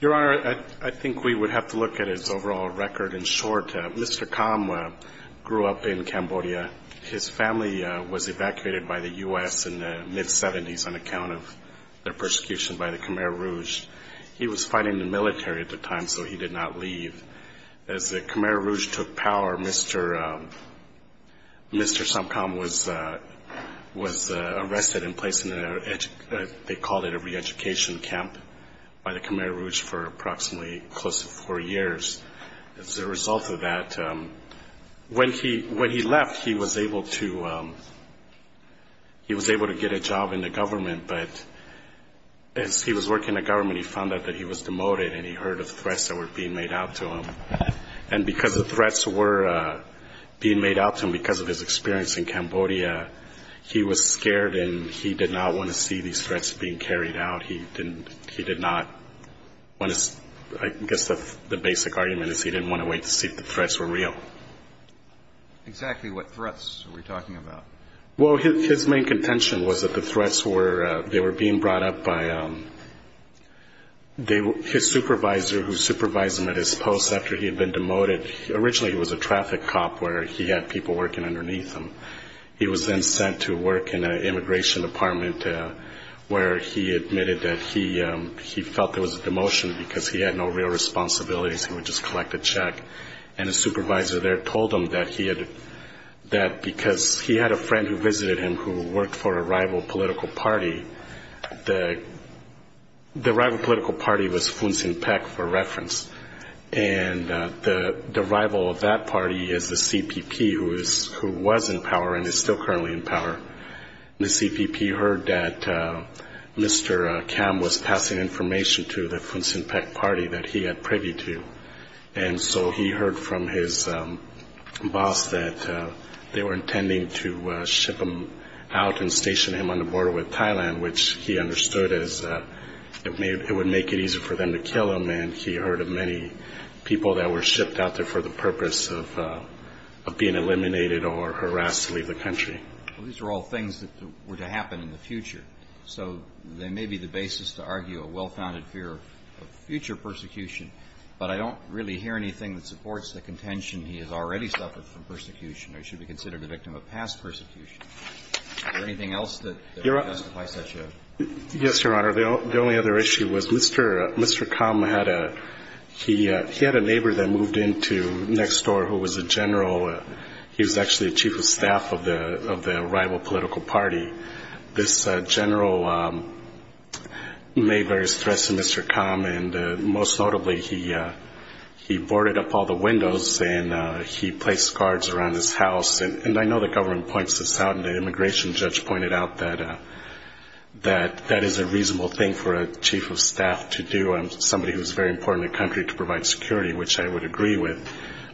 Your Honor, I think we would have to look at his overall record in short. Mr. Kham grew up in Cambodia. His family was evacuated by the U.S. in the mid-70s on account of their persecution by the Khmer Rouge. He was fighting in the military at the time, so he did not leave. As the Khmer Rouge took power, Mr. Sompkham was arrested and put in jail. Mr. Sompkham was put in a re-education camp by the Khmer Rouge for approximately four years. As a result of that, when he left, he was able to get a job in the government, but as he was working in the government, he found out that he was demoted and he heard of threats that were being made out to him. And because the threats were being made out to him because of his experience in Cambodia, he was scared and he did not want to see these threats being carried out. I guess the basic argument is he didn't want to wait to see if the threats were real. Exactly what threats are we talking about? Yes, exactly. Well, these are all things that were to happen in the future, so they may be the basis to argue a well-founded fear of future persecution, but I don't really hear anything that supports the contention he has already made. Yes, Your Honor. The only other issue was Mr. Kham had a neighbor that moved into next door who was a general. He was actually the chief of staff of the rival political party. This general made various threats to Mr. Kham, and most notably, he boarded up all the windows and he said, you know, I'm not going to let you in. He placed guards around his house, and I know the government points this out, and the immigration judge pointed out that that is a reasonable thing for a chief of staff to do. I'm somebody who is very important in the country to provide security, which I would agree with,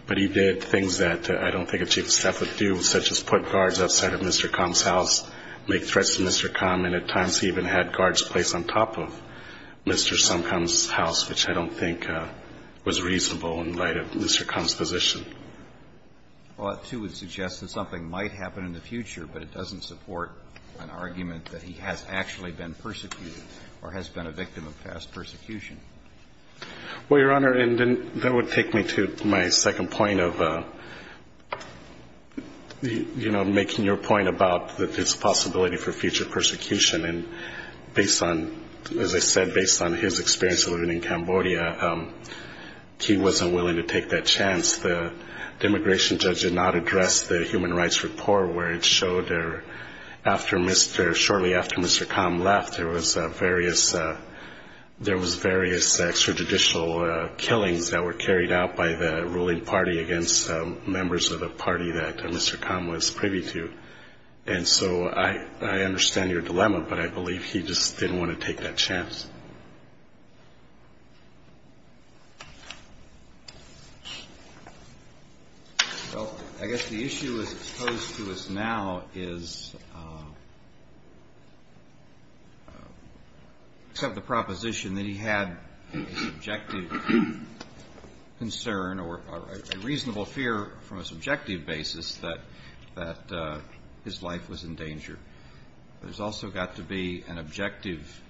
but he did things that I don't think a chief of staff would do, such as put guards outside of Mr. Kham's house, make threats to Mr. Kham, and at times he even had guards placed on top of Mr. Somkham's house, which I don't think was reasonable in light of Mr. Kham's position. Well, that, too, would suggest that something might happen in the future, but it doesn't support an argument that he has actually been persecuted or has been a victim of past persecution. Well, Your Honor, and then that would take me to my second point of, you know, making your point about this possibility for future persecution, and based on, as I said, based on his experience of living in Cambodia, he wasn't willing to take that chance. The immigration judge did not address the Human Rights Report, where it showed shortly after Mr. Kham left, there was various extrajudicial killings that were carried out by the ruling party against members of the party that Mr. Kham was privy to, and so I understand your dilemma, but I believe he just didn't want to take that chance. Well, I guess the issue as it's posed to us now is, except the proposition that he had a subjective concern or a reasonable fear from a subjective basis that his life was in danger. There's also got to be an objective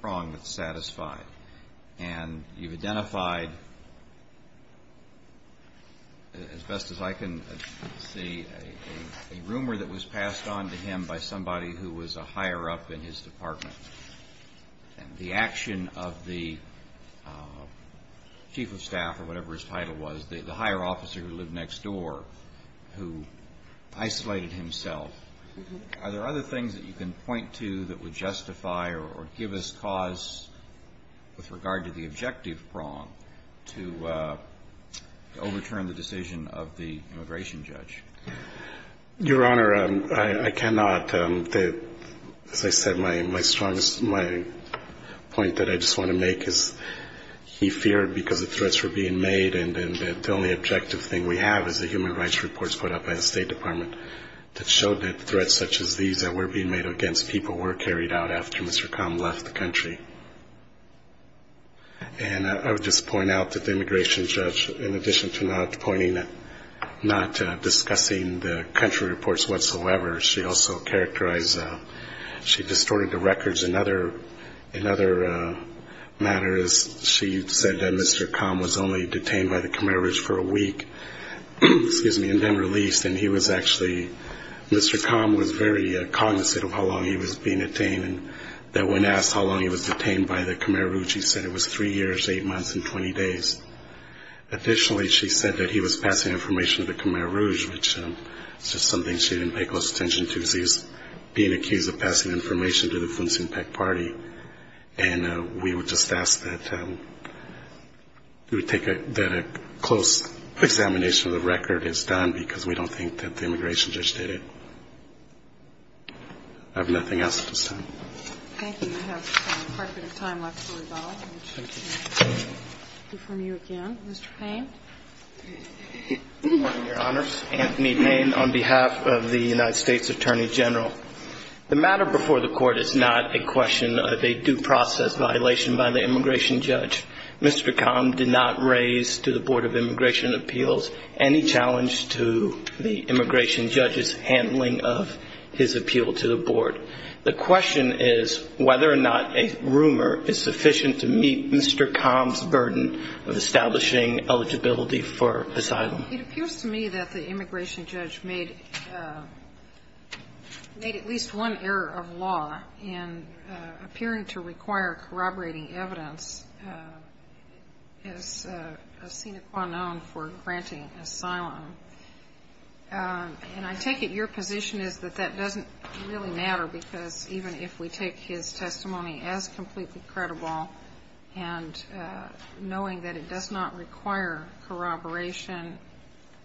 prong that's satisfied, and you've identified, as best as I can see, a rumor that was passed on to him by somebody who was a higher-up in his department. And the action of the chief of staff, or whatever his title was, the higher officer who lived next door, who isolated himself, are there other things that you can point to that would justify or give us cause with regard to the objective prong to overturn the decision of the immigration judge? Your Honor, I cannot. As I said, my point that I just want to make is he feared because the threats were being made, and the only objective thing we have is the Human Rights Reports put up by the State Department that showed that threats such as these that were being made against people were carried out after Mr. Kham left the country. And I would just point out that the immigration judge, in addition to not discussing the country reports whatsoever, she also characterized, she distorted the records in other matters. She said that Mr. Kham was only detained by the Khmer Rouge for a week, and then released, and he was actually, Mr. Kham was very cognizant of how long he was being detained, and that when asked how long he was detained by the Khmer Rouge, he said it was three years, eight months, and 20 days. Additionally, she said that he was passing information to the Khmer Rouge, which is just something she didn't pay close attention to. Thank you again. Mr. Payne. It appears to me that the immigration judge made at least one error of law in appearing to require corroborating evidence as a sine qua non for granting asylum. And I take it your position is that that doesn't really matter, because even if we take his testimony as completely credible, and knowing that it does not require corroboration,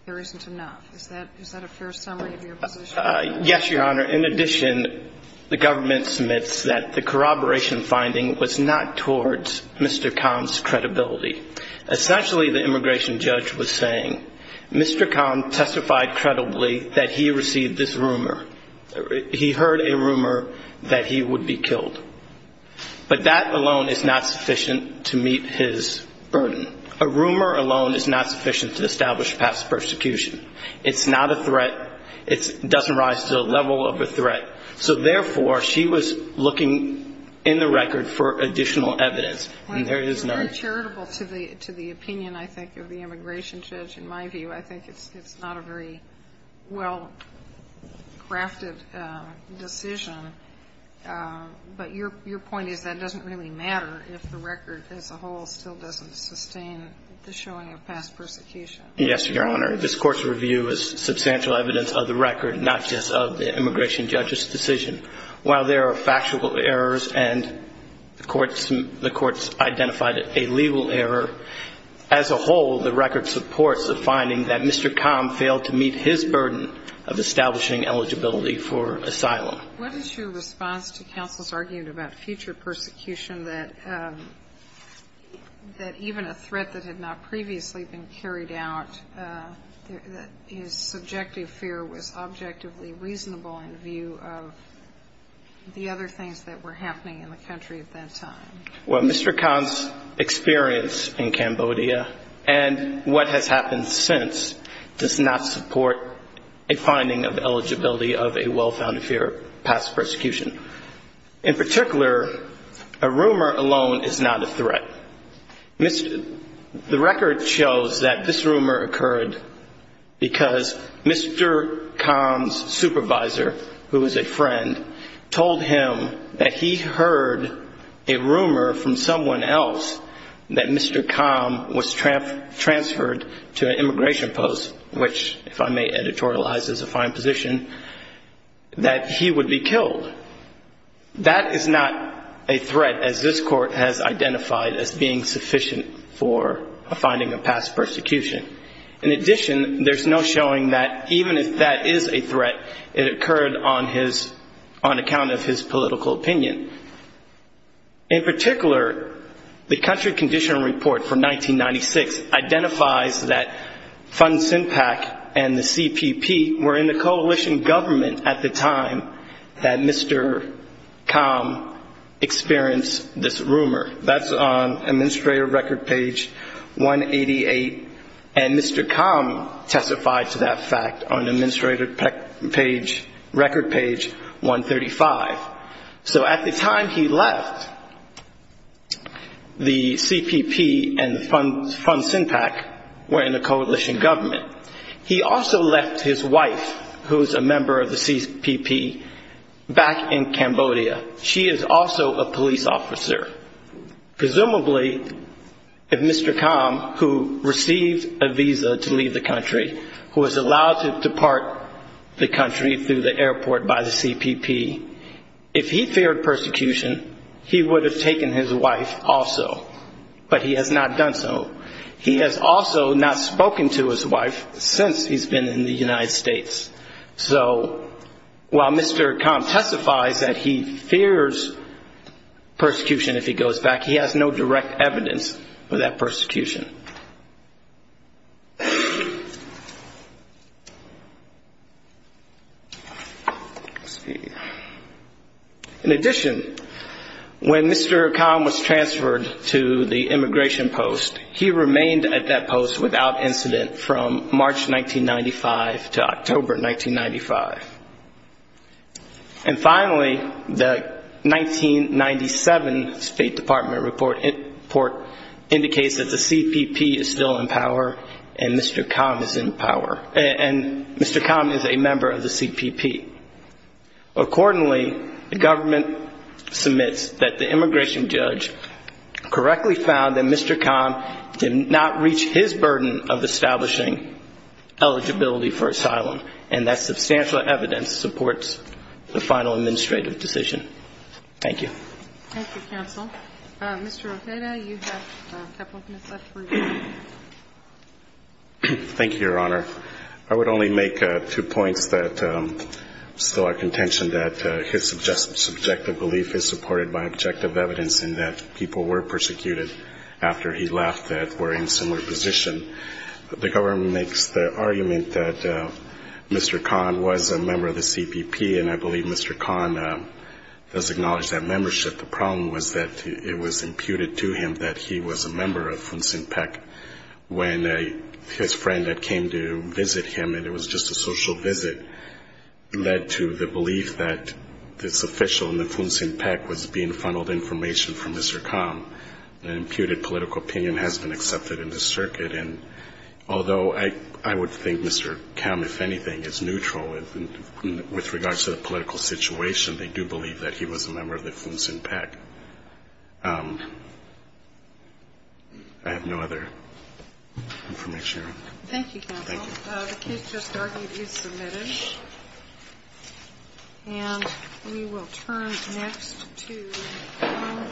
there isn't enough. Is that a fair summary of your position? Yes, Your Honor. In addition, the government submits that the corroboration finding was not towards Mr. Kham's credibility. Essentially, the immigration judge was saying Mr. Kham testified credibly that he received this rumor. He heard a rumor that he would be killed. But that alone is not sufficient to meet his burden. A rumor alone is not sufficient to establish past persecution. It's not a threat. It doesn't rise to the level of a threat. So therefore, she was looking in the record for additional evidence. And there is none. It's uncharitable to the opinion, I think, of the immigration judge, in my view. I think it's not a very well-crafted decision. But your point is that it doesn't really matter if the record as a whole still doesn't sustain the showing of past persecution. Yes, Your Honor. This Court's review is substantial evidence of the record, not just of the immigration judge's decision. While there are factual errors, and the Court's identified it in the record, there is no evidence of past persecution. And there is no evidence of a legal error. As a whole, the record supports the finding that Mr. Kham failed to meet his burden of establishing eligibility for asylum. What is your response to counsel's argument about future persecution, that even a threat that had not previously been carried out, that his subjective fear was objectively reasonable in view of the other things that were happening in the country at that time? Well, Mr. Khan's experience in Cambodia and what has happened since does not support a finding of eligibility of a well-founded fear of past persecution. In particular, a rumor alone is not a threat. The record shows that this rumor occurred because Mr. Khan's supervisor, who is a friend, told him that he heard a rumor that Mr. Khan was not able to meet his burden of establishing eligibility for asylum. And that was in 2012. That is not a threat as this court has identified as being sufficient for a finding of past persecution. In addition, there's no showing that even if that is a threat, it occurred on his, on account of his political opinion. In particular, the Country Condition Report from 1996 identifies that Fun Sin Pak and the CPP were in the coalition government at the time that Mr. Khan experienced this rumor. That's on Administrative Record page 188, and Mr. Khan testified to that fact on Administrative Record page 135. So at the time he left, the CPP and Fun Sin Pak were in the coalition government. He also left his wife, who is a member of the CPP, back in Cambodia. She is also a police officer. Presumably, if Mr. Khan, who received a visa to leave the country, who was allowed to depart the country through the airport by the CPP, if he feared persecution, he would have taken his wife also. But he has not done so. He has also not spoken to his wife since he's been in the United States. So while Mr. Khan testifies that he fears persecution if he goes back, he has no direct evidence of that persecution. In addition, when Mr. Khan was transferred to the immigration post, he remained at that post without incident from March 1995 to October 1995. And finally, the 1997 State Department report indicates that the CPP is still in power and Mr. Khan is in power, and Mr. Khan is a member of the CPP. Accordingly, the government submits that the immigration judge correctly found that Mr. Khan did not reach his burden of establishing eligibility for asylum, and that substantial evidence supports the final administrative decision. Thank you. Thank you, counsel. Mr. Ojeda, you have a couple of minutes left. Thank you, Your Honor. I would only make two points that still are contention that his subjective belief is supported by objective evidence in that people were persecuted after he left that were in similar position. The government makes the argument that Mr. Khan was a member of the CPP, and I believe Mr. Khan does acknowledge that membership. The problem was that it was imputed to him that he was a member of Fun-Sin-Pek when his friend that came to visit him, and it was just a social visit, led to the belief that this official in the Fun-Sin-Pek was being funneled information from Mr. Khan. The imputed political opinion has been accepted in the circuit, and although I would think Mr. Khan, if anything, is neutral with regards to the political situation, they do believe that he was a member of the Fun-Sin-Pek. I have no other information, Your Honor. Thank you, counsel. Thank you. The case just argued is submitted, and we will turn next to harm versus partner insurance.